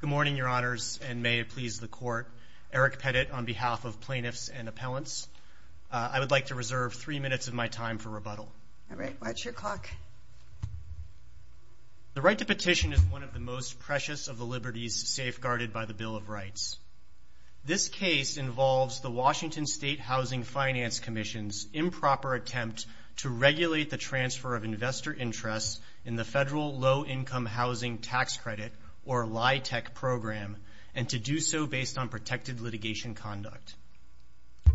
Good morning, Your Honors, and may it please the Court, Eric Pettit on behalf of Plaintiffs and Appellants. I would like to reserve three minutes of my time for rebuttal. All right, what's your clock? The right to petition is one of the most precious of the liberties safeguarded by the Bill of Rights. This case involves the Washington State Housing Finance Commission's improper attempt to regulate the transfer of investor interests in the Federal Low-Income Housing Tax Credit, or LIHTC, program and to do so based on protected litigation conduct.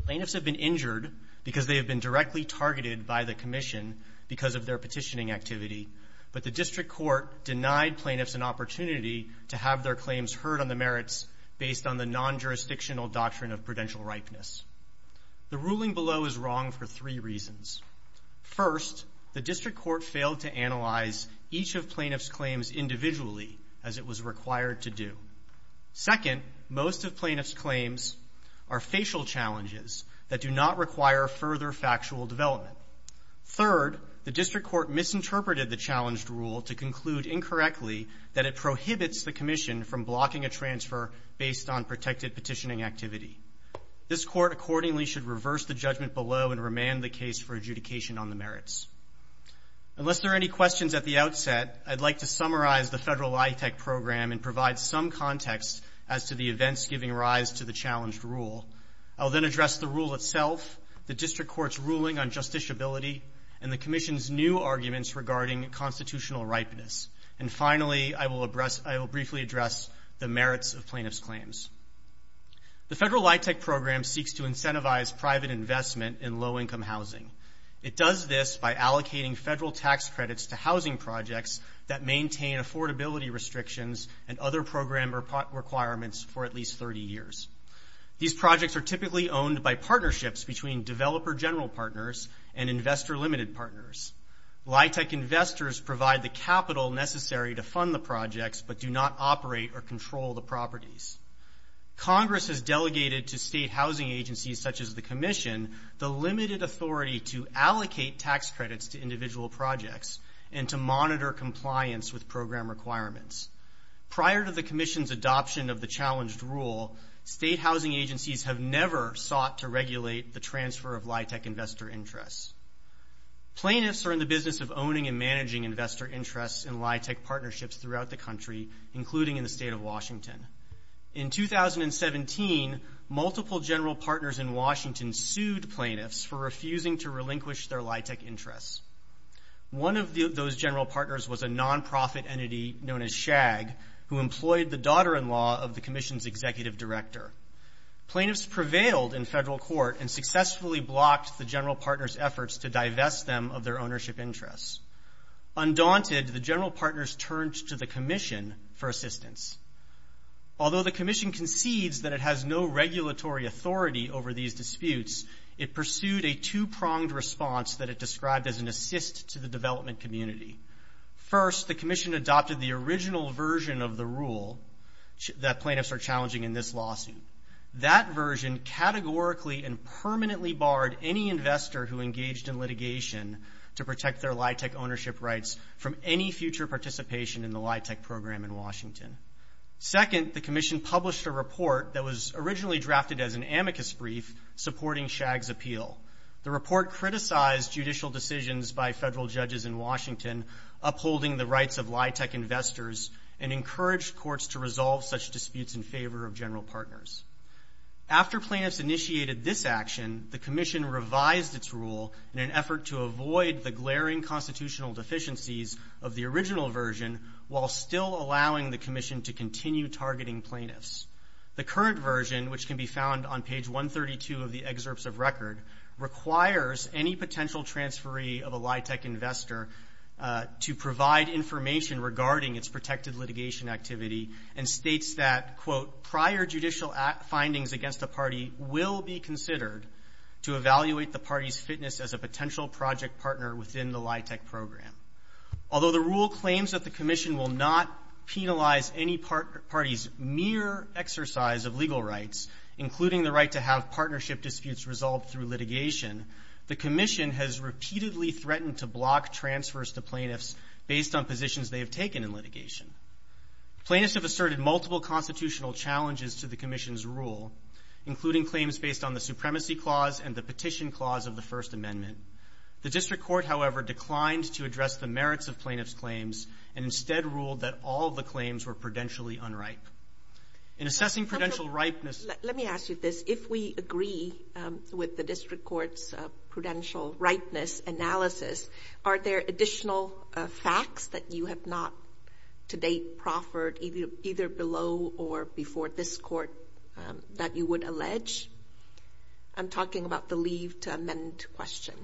Plaintiffs have been injured because they have been directly targeted by the Commission because of their petitioning activity, but the District Court denied plaintiffs an opportunity to have their claims heard on the merits based on the non-jurisdictional doctrine of prudential ripeness. The ruling below is wrong for three reasons. First, the District Court failed to analyze each of plaintiffs' claims individually as it was required to do. Second, most of plaintiffs' claims are facial challenges that do not require further factual development. Third, the District Court misinterpreted the challenged rule to conclude incorrectly that it prohibits the Commission from blocking a transfer based on protected petitioning activity. This Court accordingly should reverse the judgment below and remand the case for adjudication on the merits. Unless there are any questions at the outset, I'd like to summarize the Federal LIHTC program and provide some context as to the events giving rise to the challenged rule. I'll then address the rule itself, the District Court's ruling on justiciability, and the Commission's new arguments regarding constitutional ripeness. And finally, I will briefly address the merits of plaintiffs' claims. The Federal LIHTC program seeks to incentivize private investment in low-income housing. It does this by allocating federal tax credits to housing projects that maintain affordability restrictions and other program requirements for at least 30 years. These projects are typically owned by partnerships between developer general partners and investor limited partners. LIHTC investors provide the capital necessary to fund the projects but do not operate or control the properties. Congress has delegated to state housing agencies such as the Commission the limited authority to allocate tax credits to individual projects and to monitor compliance with program requirements. Prior to the Commission's adoption of the challenged rule, state housing agencies have never sought to regulate the transfer of LIHTC investor interests. Plaintiffs are in the interest in LIHTC partnerships throughout the country, including in the state of Washington. In 2017, multiple general partners in Washington sued plaintiffs for refusing to relinquish their LIHTC interests. One of those general partners was a nonprofit entity known as SHAG who employed the daughter-in-law of the Commission's executive director. Plaintiffs prevailed in federal court and successfully blocked the general partners' efforts to divest them of their ownership interests. Undaunted, the general partners turned to the Commission for assistance. Although the Commission concedes that it has no regulatory authority over these disputes, it pursued a two-pronged response that it described as an assist to the development community. First, the Commission adopted the original version of the rule that plaintiffs are challenging in this lawsuit. That version categorically and permanently barred any investor who engaged in litigation to protect their LIHTC ownership rights from any future participation in the LIHTC program in Washington. Second, the Commission published a report that was originally drafted as an amicus brief supporting SHAG's appeal. The report criticized judicial decisions by federal judges in Washington upholding the rights of LIHTC investors and encouraged courts to resolve such disputes in favor of general partners. After plaintiffs initiated this action, the Commission revised its rule in an effort to avoid the glaring constitutional deficiencies of the original version while still allowing the Commission to continue targeting plaintiffs. The current version, which can be found on page 132 of the excerpts of record, requires any potential transferee of a LIHTC investor to provide information regarding its protected litigation activity and states that, quote, prior judicial findings against a party will be considered to evaluate the party's fitness as a potential project partner within the LIHTC program. Although the rule claims that the Commission will not penalize any party's mere exercise of legal rights, including the right to have partnership disputes resolved through litigation, the Commission has repeatedly threatened to block transfers to plaintiffs based on positions they have taken in litigation. Plaintiffs have asserted multiple constitutional challenges to the Commission's rule, including claims based on the Supremacy Clause and the Petition Clause of the First Amendment. The District Court, however, declined to address the merits of plaintiffs' claims and instead ruled that all of the claims were prudentially unripe. In assessing prudential ripeness... Let me ask you this. If we agree with the District Court's prudential ripeness analysis, are there additional facts that you have not, to date, proffered, either below or before this Court, that you would allege? I'm talking about the leave to amend question.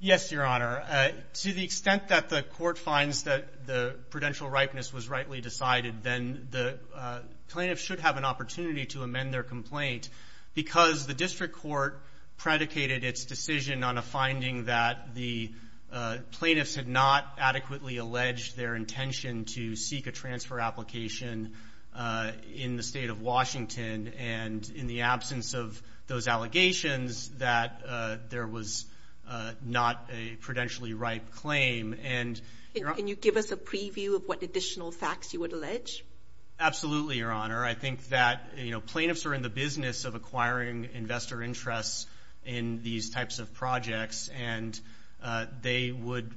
Yes, Your Honor. To the extent that the Court finds that the prudential ripeness was rightly decided, then the plaintiff should have an opportunity to amend their complaint because the District Court predicated its decision on a finding that the plaintiffs had not adequately alleged their intention to seek a transfer application in the State of Washington, and in the absence of those allegations, that there was not a prudentially ripe claim. Can you give us a preview of what additional facts you would allege? Absolutely, Your Honor. I think that, you know, plaintiffs are in the business of acquiring investor interests in these types of projects, and they would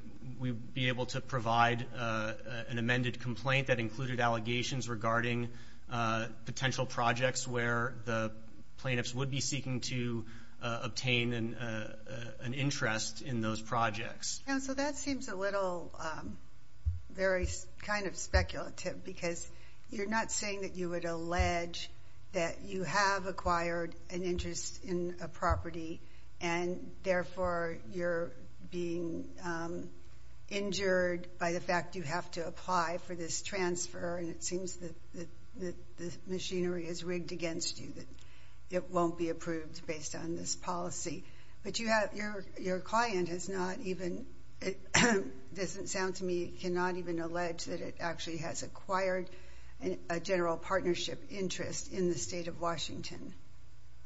be able to provide an amended complaint that included allegations regarding potential projects where the plaintiffs would be seeking to obtain an interest in those projects. Counsel, that seems a little, very kind of speculative, because you're not saying that you would allege that you have acquired an interest in a property, and therefore you're being injured by the fact you have to apply for this transfer, and it seems that the machinery is rigged against you, that it won't be approved based on this policy. But you have, your client has not even, it doesn't sound to me, cannot even allege that it actually has acquired a general partnership interest in the State of Washington.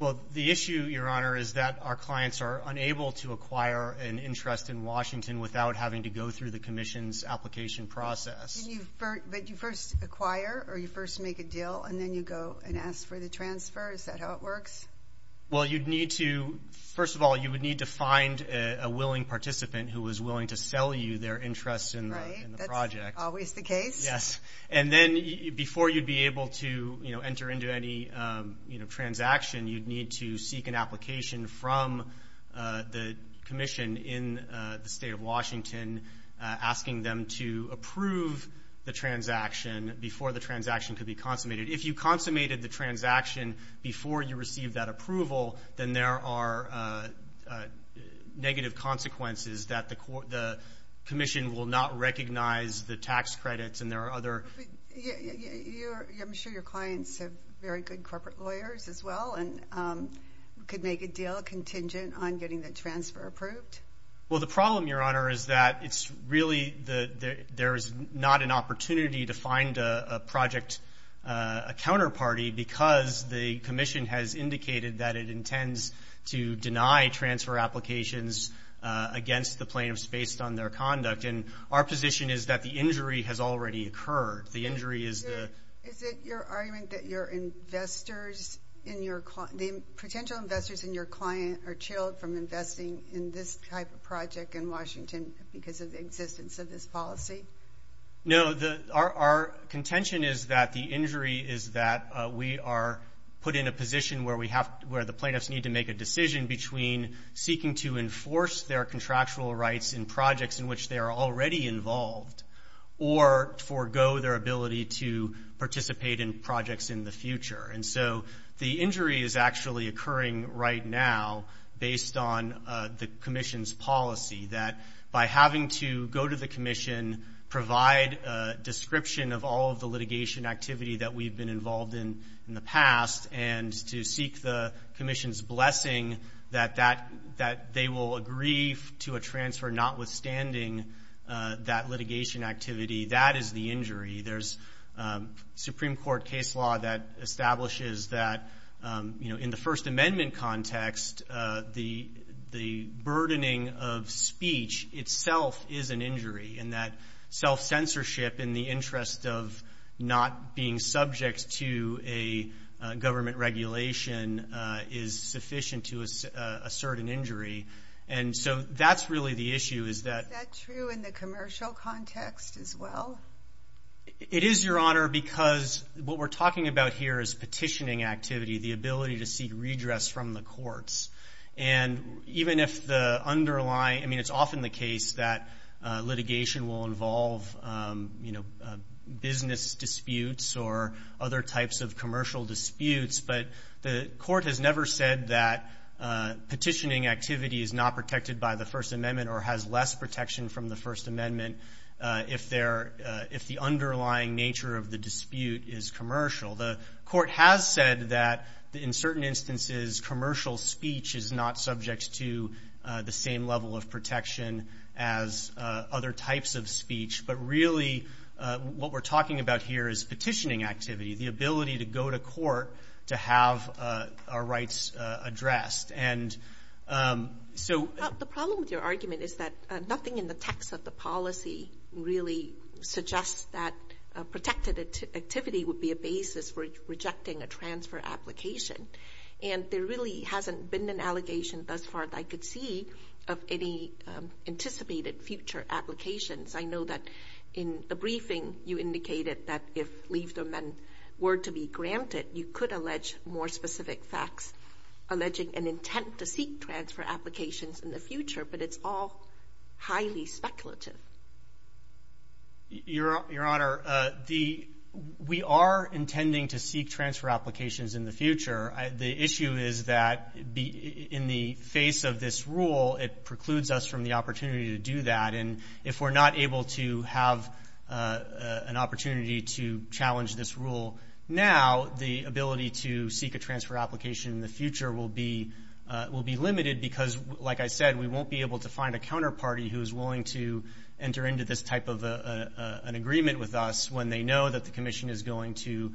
Well, the issue, Your Honor, is that our clients are unable to acquire an interest in Washington without having to go through the Commission's application process. But you first acquire, or you first make a deal, and then you go and ask for the transfer? Is that how it works? Well, you'd need to, first of all, you would need to find a willing participant who was willing to sell you their interest in the project. Right, that's always the case. Yes. And then before you'd be able to enter into any transaction, you'd need to seek an application from the Commission in the State of Washington asking them to approve the transaction before the transaction could be consummated. If you consummated the transaction before you received that approval, then there are negative consequences that the Commission will not recognize the tax credits, and there are other... I'm sure your clients have very good corporate lawyers as well, and could make a deal contingent on getting the transfer approved? Well, the problem, Your Honor, is that it's really, there's not an opportunity to find a project, a counterparty, because the Commission has indicated that it intends to deny transfer applications against the plaintiffs based on their conduct. And our position is that the injury has already occurred. The injury is the... Is it your argument that your investors in your, the potential investors in your client are chilled from investing in this type of project in Washington because of the existence of this policy? No, our contention is that the injury is that we are put in a position where we have, where the plaintiffs need to make a decision between seeking to enforce their contractual rights in projects in which they are already involved, or forego their ability to participate in projects in the future. And so the injury is actually occurring right now based on the the Commission provide a description of all of the litigation activity that we've been involved in in the past, and to seek the Commission's blessing that they will agree to a transfer notwithstanding that litigation activity. That is the injury. There's Supreme Court case law that establishes that, you know, in the First Amendment context, the burdening of speech itself is an injury, and that self-censorship in the interest of not being subject to a government regulation is sufficient to assert an injury. And so that's really the issue is that... Is that true in the commercial context as well? It is, Your Honor, because what we're talking about here is petitioning activity, the ability to seek redress from the courts. And even if the underlying... I mean, it's often the case that litigation will involve, you know, business disputes or other types of commercial disputes, but the court has never said that petitioning activity is not protected by the First Amendment or has less protection from the First Amendment if the underlying nature of the dispute is commercial. The court has said that, in certain instances, commercial speech is not subject to the same level of protection as other types of speech. But really, what we're talking about here is petitioning activity, the ability to go to court to have our rights addressed. And so... The problem with your argument is that nothing in the text of the policy really suggests that protected activity would be a basis for rejecting a transfer application. And there really hasn't been an allegation thus far that I could see of any anticipated future applications. I know that in the briefing, you indicated that if leave to amend were to be granted, you could allege more specific facts alleging an intent to seek transfer applications in the future, but it's all highly speculative. Your Honor, we are intending to seek transfer applications in the future. The issue is that in the face of this rule, it precludes us from the opportunity to do that. And if we're not able to have an opportunity to challenge this rule now, the ability to seek a transfer application in the future will be limited because, like I said, we won't be able to have a commission that is willing to enter into this type of an agreement with us when they know that the commission is going to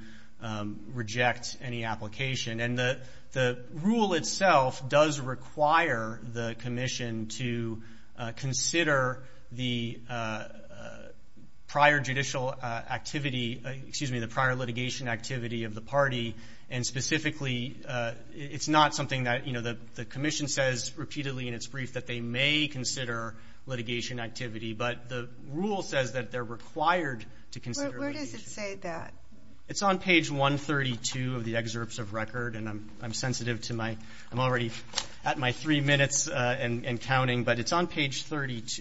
reject any application. And the rule itself does require the commission to consider the prior judicial activity, excuse me, the prior litigation activity of the party. And specifically, it's not something that, you know, the commission says repeatedly in its brief that they may consider litigation activity, but the rule says that they're required to consider litigation. Where does it say that? It's on page 132 of the excerpts of record, and I'm sensitive to my, I'm already at my 3 minutes and counting, but it's on page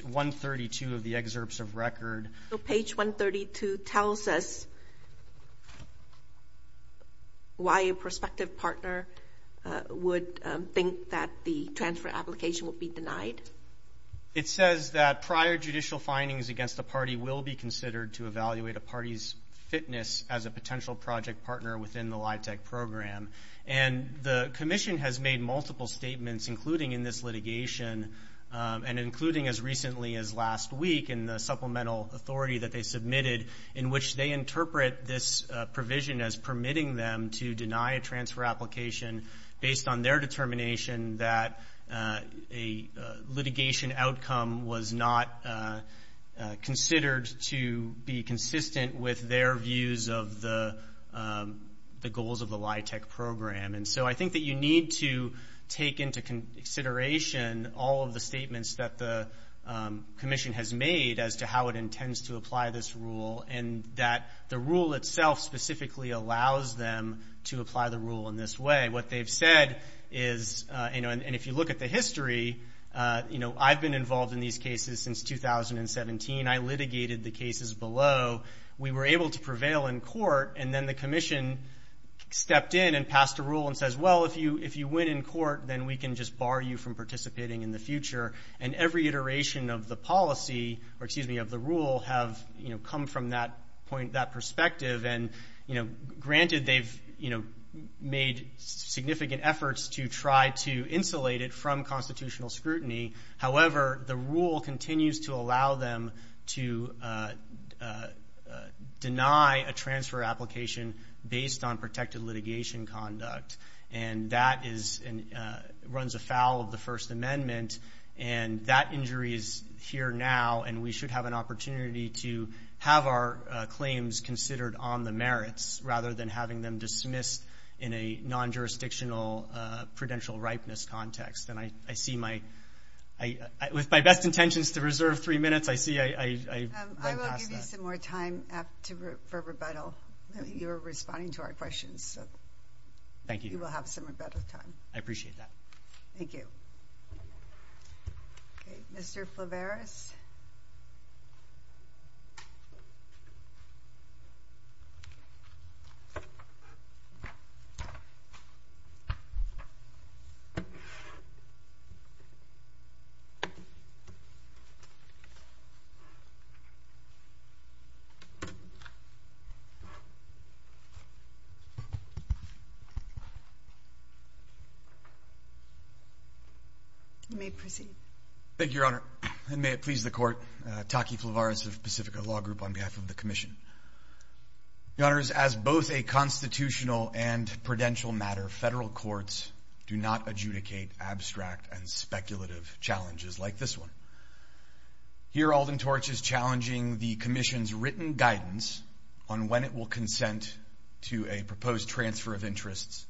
132 of the excerpts of record. So page 132 tells us why a prospective partner would think that the transfer application would be denied. It says that prior judicial findings against the party will be considered to evaluate a party's fitness as a potential project partner within the LIHTC program. And the commission has made multiple statements, including in this litigation, and including as recently as last week in the supplemental authority that they submitted, in which they interpret this provision as permitting them to deny a transfer application based on their determination that a litigation outcome was not considered to be consistent with their views of the goals of the LIHTC program. And so I think that you need to take into consideration all of the statements that the commission has made as to how it intends to apply this rule, and that the rule itself specifically allows them to apply the rule in this way. What they've said is, you know, and if you look at the history, you know, I've been involved in these cases since 2017. I litigated the cases below. We were able to prevail in court, and then the commission stepped in and passed a rule and says, well, if you, if you win in court, then we can just bar you from participating in the future. And every iteration of the policy, or excuse me, of the rule have, you know, come from that point, that perspective. And, you know, granted, they've, you know, made significant efforts to try to insulate it from constitutional scrutiny. However, the rule continues to allow them to deny a transfer application based on protected litigation conduct. And that is, runs afoul of the First Amendment. And that injury is here now, and we should have an opportunity to have our claims considered on the merits, rather than having them dismissed in a non-jurisdictional prudential ripeness context. And I see my, with my best intentions to reserve three minutes, I see I've run past that. I will give you some more time to, for rebuttal. You were responding to our questions, so. Thank you. You will have some rebuttal time. I appreciate that. Thank you. Okay, Mr. Flavaris. You may proceed. Thank you, Your Honor. And may it please the Court, Taki Flavaris of Pacifica Law Group on behalf of the Commission. Your Honors, as both a constitutional and prudential matter, federal courts do not adjudicate abstract and speculative challenges like this one. Here Alden Torch is challenging the Commission's written guidance on when it will consent to a proposed transfer of interests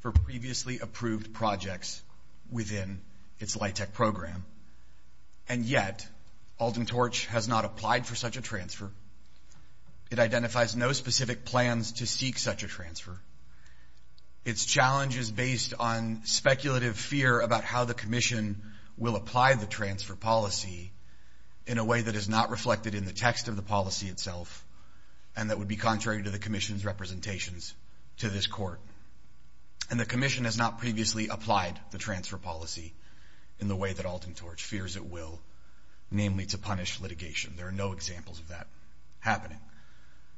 for previously approved projects within its LIHTC program. And yet, Alden Torch has not applied for such a transfer. It identifies no specific plans to seek such a transfer. Its challenge is based on speculative fear about how the Commission will apply the transfer policy in a way that is not reflected in the text of the policy itself, and that would be contrary to the Commission's representations to this Court. And the Commission has not previously applied the transfer policy in the way that Alden Torch fears it will, namely to punish litigation. There are no examples of that happening.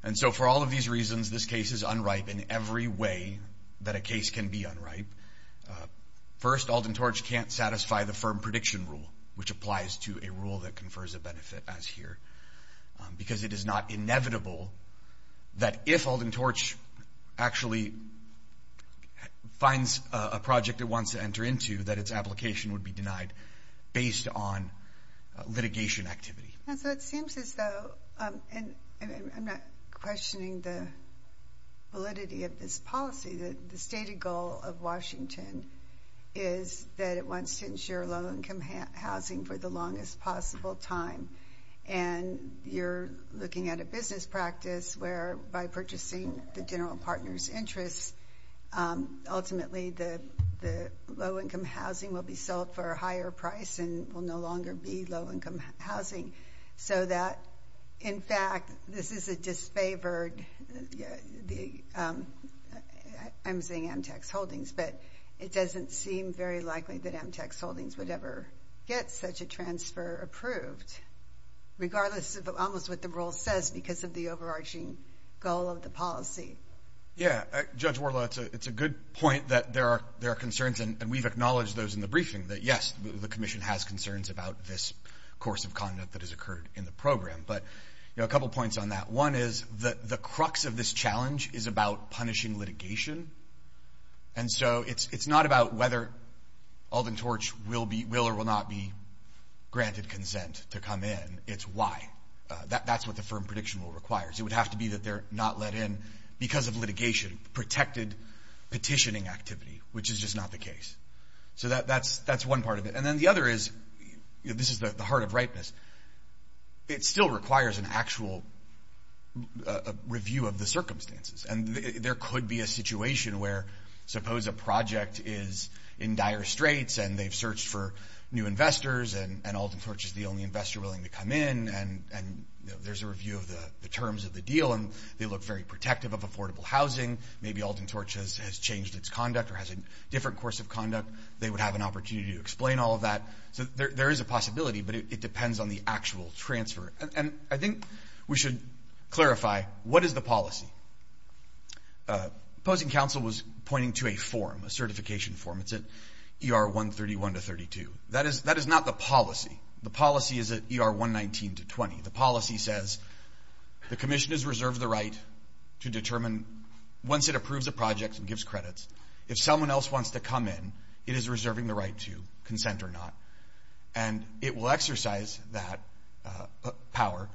And so for all of these reasons, this case is unripe in every way that a case can be unripe. First, Alden Torch can't satisfy the firm prediction rule, which applies to a rule that confers a benefit as here, because it is not inevitable that if Alden Torch actually finds a project it wants to enter into, that its application would be denied based on litigation activity. So it seems as though, and I'm not questioning the validity of this policy, that the stated goal of Washington is that it wants to insure low-income housing for the longest possible time. And you're looking at a business practice where, by purchasing the general partner's interests, ultimately the low-income housing will be sold for a higher price and will no longer be low-income housing. So that, in fact, this is a disfavored, I'm saying antitrust holdings, but it doesn't seem very likely that Amtec's holdings would ever get such a transfer approved, regardless of almost what the rule says, because of the overarching goal of the policy. Yeah. Judge Worla, it's a good point that there are concerns, and we've acknowledged those in the briefing, that yes, the Commission has concerns about this course of conduct that has occurred in the program. But a couple points on that. One is that the crux of this And so it's not about whether Alden Torch will or will not be granted consent to come in. It's why. That's what the firm prediction requires. It would have to be that they're not let in because of litigation, protected petitioning activity, which is just not the case. So that's one part of it. And then the other is, this is the heart of rightness, it still requires an actual review of the circumstances. And there could be a situation where, suppose a project is in dire straits, and they've searched for new investors, and Alden Torch is the only investor willing to come in, and there's a review of the terms of the deal, and they look very protective of affordable housing. Maybe Alden Torch has changed its conduct or has a different course of conduct. They would have an opportunity to explain all of that. So there is a possibility, but it depends on the actual transfer. And I think we should clarify, what is the policy? Opposing Council was pointing to a form, a certification form. It's at ER 131 to 32. That is not the policy. The policy is at ER 119 to 20. The policy says, the commission is reserved the right to determine, once it approves a project and gives credits, if someone else wants to come in, it is reserving the power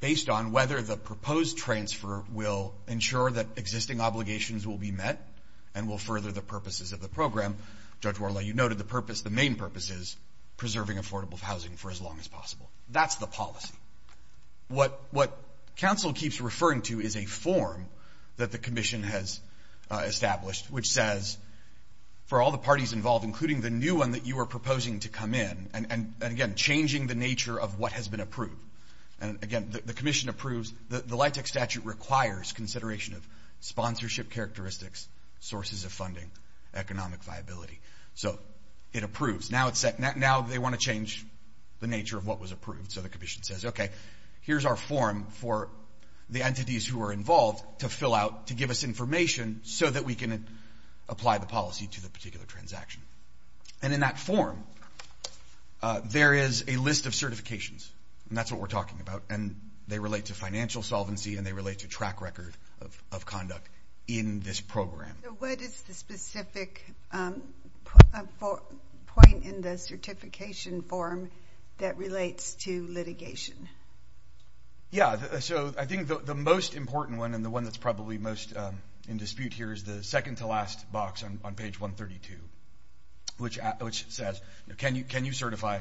based on whether the proposed transfer will ensure that existing obligations will be met and will further the purposes of the program. Judge Worley, you noted the purpose, the main purpose is preserving affordable housing for as long as possible. That's the policy. What Council keeps referring to is a form that the commission has established, which says, for all the parties involved, including the new one that you are proposing to come in, and again, changing the nature of what has been approved. And again, the commission approves, the LIHTC statute requires consideration of sponsorship characteristics, sources of funding, economic viability. So it approves. Now they want to change the nature of what was approved. So the commission says, okay, here's our form for the entities who are involved to fill out, to give us information, so that we can apply the policy to the particular transaction. And in that form, there is a list of certifications, and that's what we're talking about, and they relate to financial solvency and they relate to track record of conduct in this program. What is the specific point in the certification form that relates to litigation? Yeah, so I think the most important one, and the one that's probably most in line, is section 132, which says, can you certify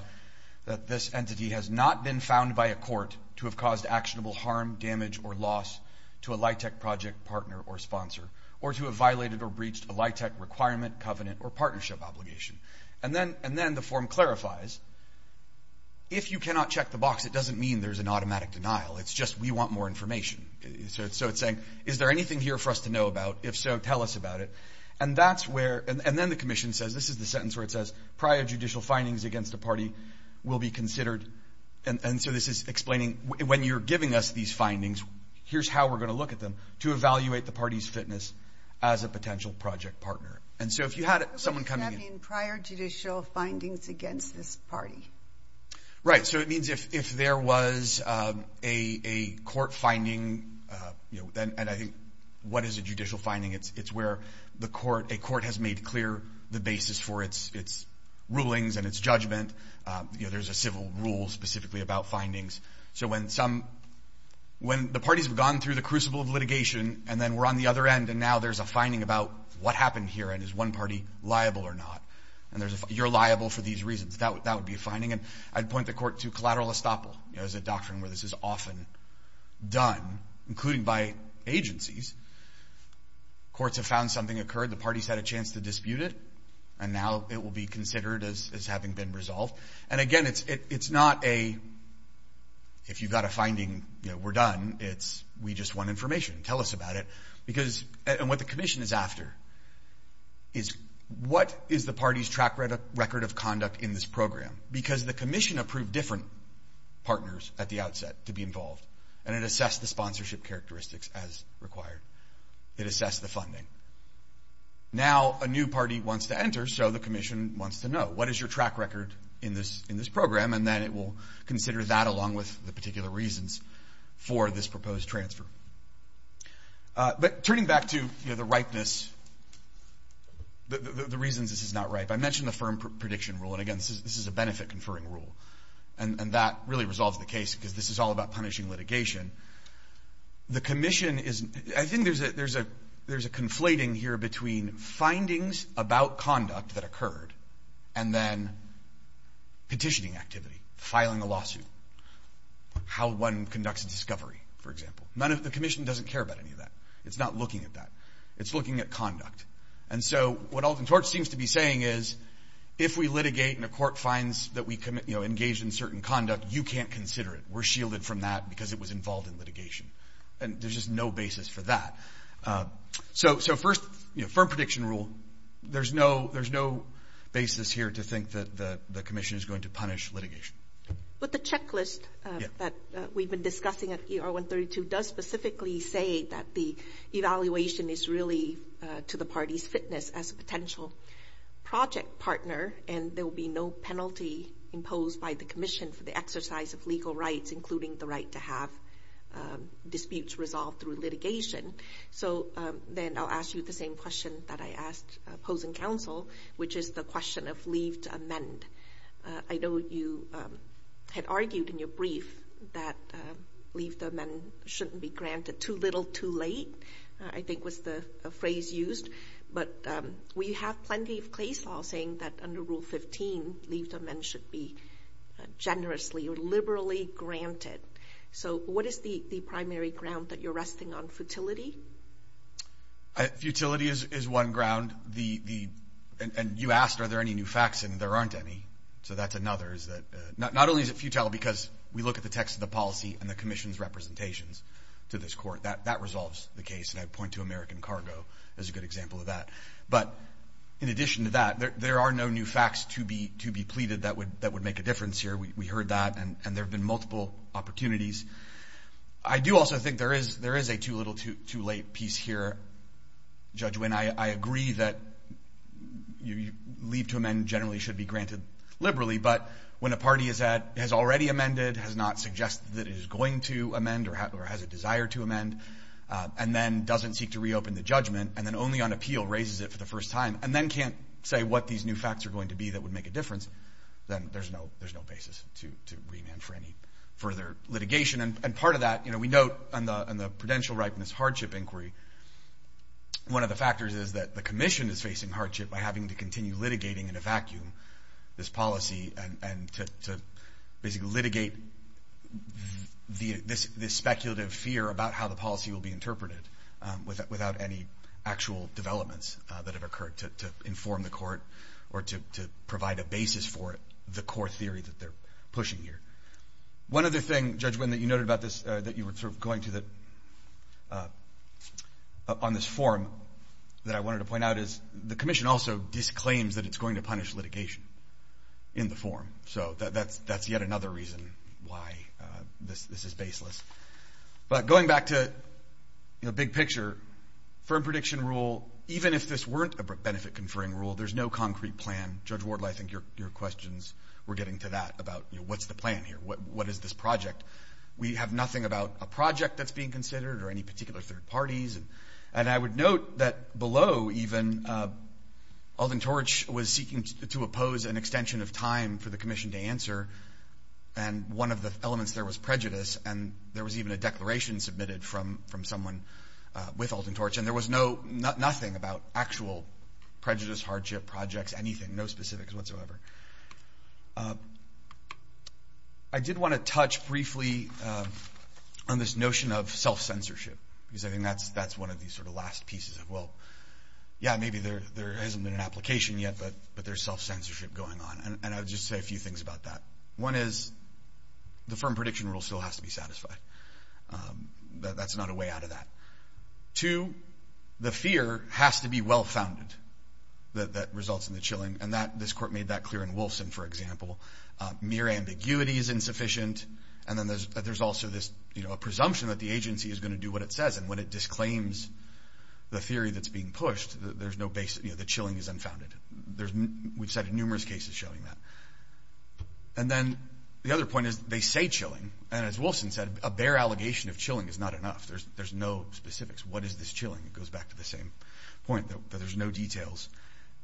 that this entity has not been found by a court to have caused actionable harm, damage, or loss to a LIHTC project partner or sponsor, or to have violated or breached a LIHTC requirement, covenant, or partnership obligation? And then the form clarifies, if you cannot check the box, it doesn't mean there's an automatic denial. It's just, we want more information. So it's saying, is there anything here for us to know about? If so, tell us about it. And that's where, and then the commission says, this is the sentence where it says, prior judicial findings against the party will be considered, and so this is explaining, when you're giving us these findings, here's how we're going to look at them, to evaluate the party's fitness as a potential project partner. And so if you had someone coming in. What does that mean, prior judicial findings against this party? Right, so it means if there was a court finding, and I think, what is a judicial finding? It's where a court has made clear the basis for its rulings and its judgment. There's a civil rule specifically about findings. So when the parties have gone through the crucible of litigation, and then we're on the other end, and now there's a finding about what happened here, and is one party liable or not? And you're liable for these reasons. That would be a finding. And I'd point the by agencies. Courts have found something occurred, the parties had a chance to dispute it, and now it will be considered as having been resolved. And again, it's not a, if you've got a finding, we're done, it's we just want information, tell us about it. Because, and what the commission is after, is what is the party's track record of conduct in this program? Because the commission approved different partners at the outset to be involved. And it assessed the sponsorship characteristics as required. It assessed the funding. Now, a new party wants to enter, so the commission wants to know. What is your track record in this program? And then it will consider that along with the particular reasons for this proposed transfer. But turning back to the ripeness, the reasons this is not ripe. I mentioned the firm prediction rule, and again, this is a benefit conferring rule. And that really resolves the case, because this is all about punishing litigation. The commission is, I think there's a conflating here between findings about conduct that occurred, and then petitioning activity, filing a lawsuit. How one conducts a discovery, for example. The commission doesn't care about any of that. It's not looking at that. It's looking at conduct. And so, what Alton Torch seems to be saying is, if we litigate and the court finds that we engaged in certain conduct, you can't consider it. We're shielded from that because it was involved in litigation. And there's just no basis for that. So first, firm prediction rule. There's no basis here to think that the commission is going to punish litigation. But the checklist that we've been discussing at ER 132 does specifically say that the evaluation is really to the party's fitness as a potential project partner, and there will be no penalty imposed by the commission for the exercise of legal rights, including the right to have disputes resolved through litigation. So then I'll ask you the same question that I asked opposing counsel, which is the question of leave to amend. I know you had argued in your case that leave to amend was the phrase used, but we have plenty of case law saying that under Rule 15, leave to amend should be generously or liberally granted. So what is the primary ground that you're resting on, futility? Futility is one ground. And you asked are there any new facts, and there aren't any. So that's another. Not only is it futile because we look at the text of the policy and the American cargo as a good example of that, but in addition to that, there are no new facts to be pleaded that would make a difference here. We heard that, and there have been multiple opportunities. I do also think there is a too little, too late piece here, Judge Wynn. I agree that leave to amend generally should be granted liberally, but when a party has already amended, has not suggested that it is going to amend or has a desire to amend, and then doesn't seek to reopen the judgment, and then only on appeal raises it for the first time, and then can't say what these new facts are going to be that would make a difference, then there's no basis to remand for any further litigation. And part of that, we note in the Prudential Ripeness Hardship Inquiry, one of the factors is that the Commission is facing hardship by having to continue litigating in a vacuum this policy and to basically litigate this speculative fear about how the policy will be interpreted without any actual developments that have occurred to inform the court or to provide a basis for it, the core theory that they're pushing here. One other thing, Judge Wynn, that you noted about this, that you were going to on this form that I wanted to point out is the Commission also disclaims that it's going to punish litigation in the form. So that's yet another reason why this is baseless. But going back to the big picture, firm prediction rule, even if this weren't a benefit-conferring rule, there's no concrete plan. Judge Wardle, I think your questions were getting to that about, you know, what's the plan here? What is this project? We have nothing about a project that's being considered or any particular third parties. And I would note that below, even, Alton Torch was seeking to oppose an extension of time for the Commission to answer. And one of the elements there was prejudice. And there was even a declaration submitted from someone with Alton Torch. And there was no, nothing about actual prejudice, hardship, projects, anything, no specifics whatsoever. I did want to touch briefly on this notion of self-censorship, because I think that's one of these sort of last pieces of, well, yeah, maybe there hasn't been an application yet, but there's self-censorship going on. And I would just say a few things about that. One is the firm prediction rule still has to be satisfied. That's not a way out of that. Two, the fear has to be well-founded that results in the chilling. And this court made that clear in Wolfson, for example. Mere assumption that the agency is going to do what it says. And when it disclaims the theory that's being pushed, there's no basis, you know, the chilling is unfounded. We've cited numerous cases showing that. And then the other point is they say chilling. And as Wolfson said, a bare allegation of chilling is not enough. There's no specifics. What is this chilling? It goes back to the same point, that there's no details.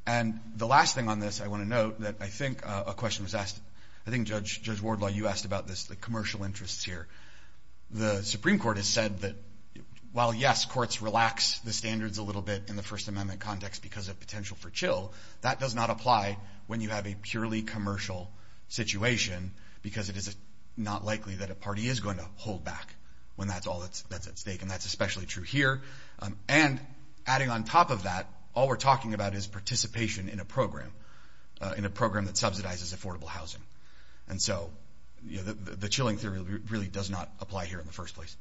And the last thing on this I want to note, that I think a question was asked, I think Judge Wardlaw, you asked about this, the commercial interests here. The Supreme Court has said that while yes, courts relax the standards a little bit in the First Amendment context because of potential for chill, that does not apply when you have a purely commercial situation, because it is not likely that a party is going to hold back when that's all that's at stake. And that's especially true here. And adding on top of that, all we're talking about is participation in a program, in a program that subsidizes affordable housing. And so, you know, the chilling theory really does not apply here in the first place.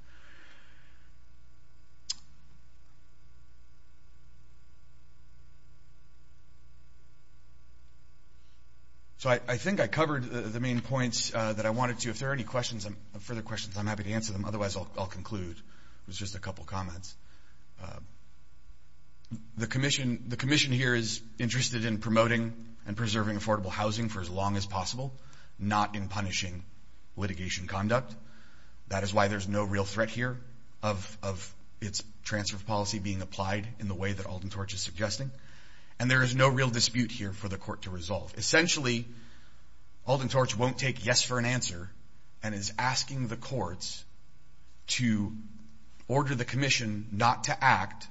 So I think I covered the main points that I wanted to. If there are any questions, further questions, I'm happy to answer them. Otherwise, I'll conclude. It was just a couple comments. The Commission, the Commission here is interested in promoting and preserving affordable housing for as long as possible, not in punishing litigation conduct. That is why there's no real threat here of its transfer of policy being applied in the way that Alton Torch is suggesting. And there is no real dispute here for the Court to resolve. Essentially, Alton Torch won't take yes for an answer and is asking the courts to order the Commission not to act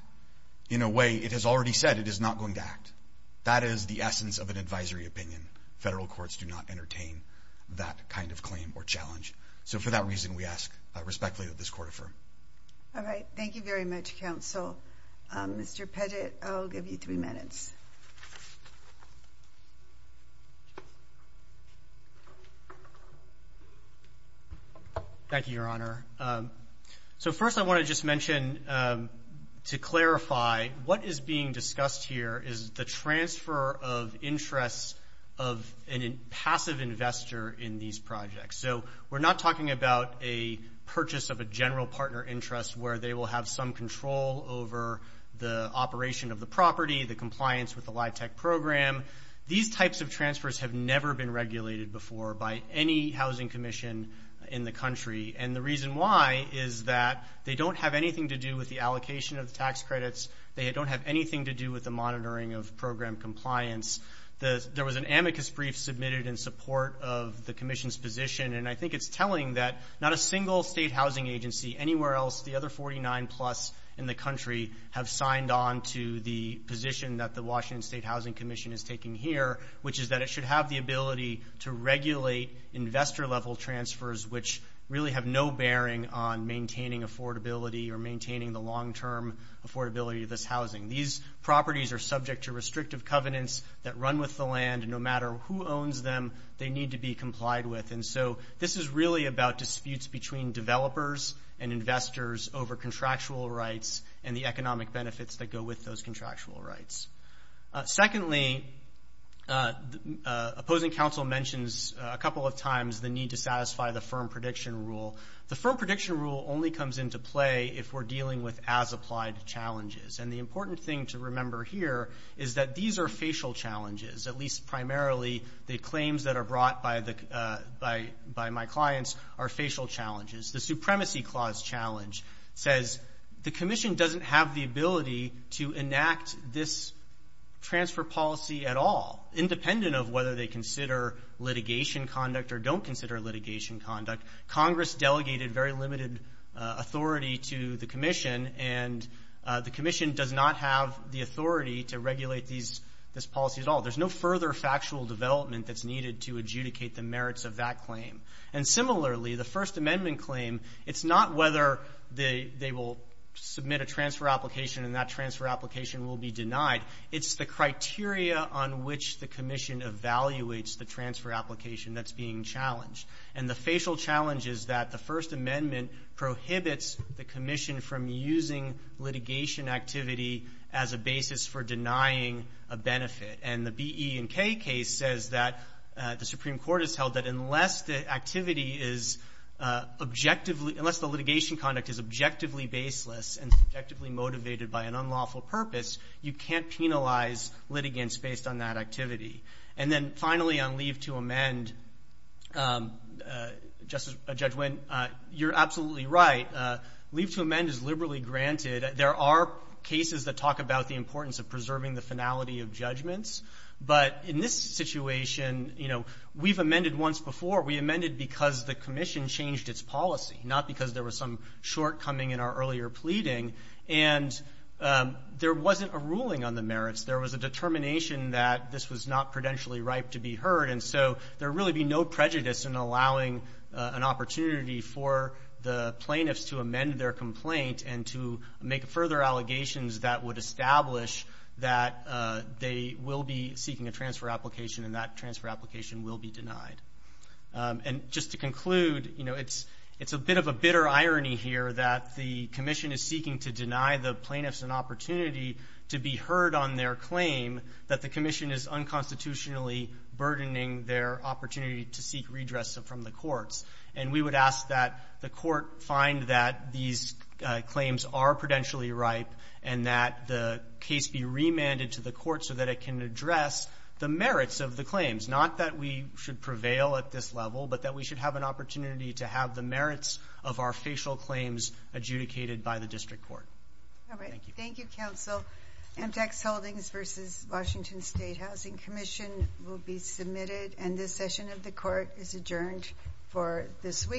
in a way it has already said it is not going to act. That is the essence of an advisory opinion. Federal courts do not entertain that kind of claim or challenge. So for that reason, we ask respectfully that this Court affirm. All right. Thank you very much, Counsel. Mr. Pettit, I'll give you three minutes. Thank you, Your Honor. So first, I want to just mention to clarify what is being discussed here is the transfer of interests of a passive investor in these projects. So we're not talking about a purchase of a general partner interest where they will have some control over the compliance with the LIHTC program. These types of transfers have never been regulated before by any housing commission in the country. And the reason why is that they don't have anything to do with the allocation of the tax credits. They don't have anything to do with the monitoring of program compliance. There was an amicus brief submitted in support of the Commission's position. And I think it's telling that not a single state housing agency anywhere else, the other 49-plus in the country, have signed on to the position that the Washington State Housing Commission is taking here, which is that it should have the ability to regulate investor-level transfers, which really have no bearing on maintaining affordability or maintaining the long-term affordability of this housing. These properties are subject to restrictive covenants that run with the land. No matter who owns them, they need to be complied with. And so this is really about disputes between developers and investors over contractual rights and the economic benefits that go with those contractual rights. Secondly, opposing counsel mentions a couple of times the need to satisfy the firm prediction rule. The firm prediction rule only comes into play if we're dealing with as-applied challenges. And the important thing to remember here is that these are facial challenges, at least primarily the claims that are brought by my clients are facial challenges. The Supremacy Clause challenge says the Commission doesn't have the ability to enact this transfer policy at all, independent of whether they consider litigation conduct or don't consider litigation conduct. Congress delegated very limited authority to the Commission, and the Commission does not have the authority to regulate this policy at all. There's no further factual development that's needed to adjudicate the merits of that claim. And similarly, the First Amendment claim, it's not whether they will submit a transfer application and that transfer application will be denied. It's the criteria on which the Commission evaluates the transfer application that's being challenged. And the facial challenge is that the First Amendment prohibits the Commission from using litigation activity as a basis for denying a benefit. And the B, E, and K case says that the Supreme Court has held that unless the litigation conduct is objectively baseless and subjectively motivated by an unlawful purpose, you can't penalize litigants based on that activity. And then Judge Wynn, you're absolutely right. Leave to amend is liberally granted. There are cases that talk about the importance of preserving the finality of judgments. But in this situation, you know, we've amended once before. We amended because the Commission changed its policy, not because there was some shortcoming in our earlier pleading. And there wasn't a ruling on the merits. There was a determination that this was not prudentially right to be heard. And so there would really be no prejudice in allowing an opportunity for the plaintiffs to amend their complaint and to make further allegations that would establish that they will be seeking a transfer application and that transfer application will be denied. And just to conclude, you know, it's a bit of a bitter irony here that the Commission is seeking to deny the plaintiffs an opportunity to be heard on their claim that the Commission is unconstitutionally burdening their opportunity to seek redress from the courts. And we would ask that the court find that these claims are prudentially right and that the case be remanded to the court so that it can address the merits of the claims. Not that we should prevail at this level, but that we should have an opportunity to have the merits of our facial claims adjudicated by the district court. Thank you, Counsel. Amtac's Holdings v. Washington State Housing Commission will be submitted. And this session of the court is adjourned for this week.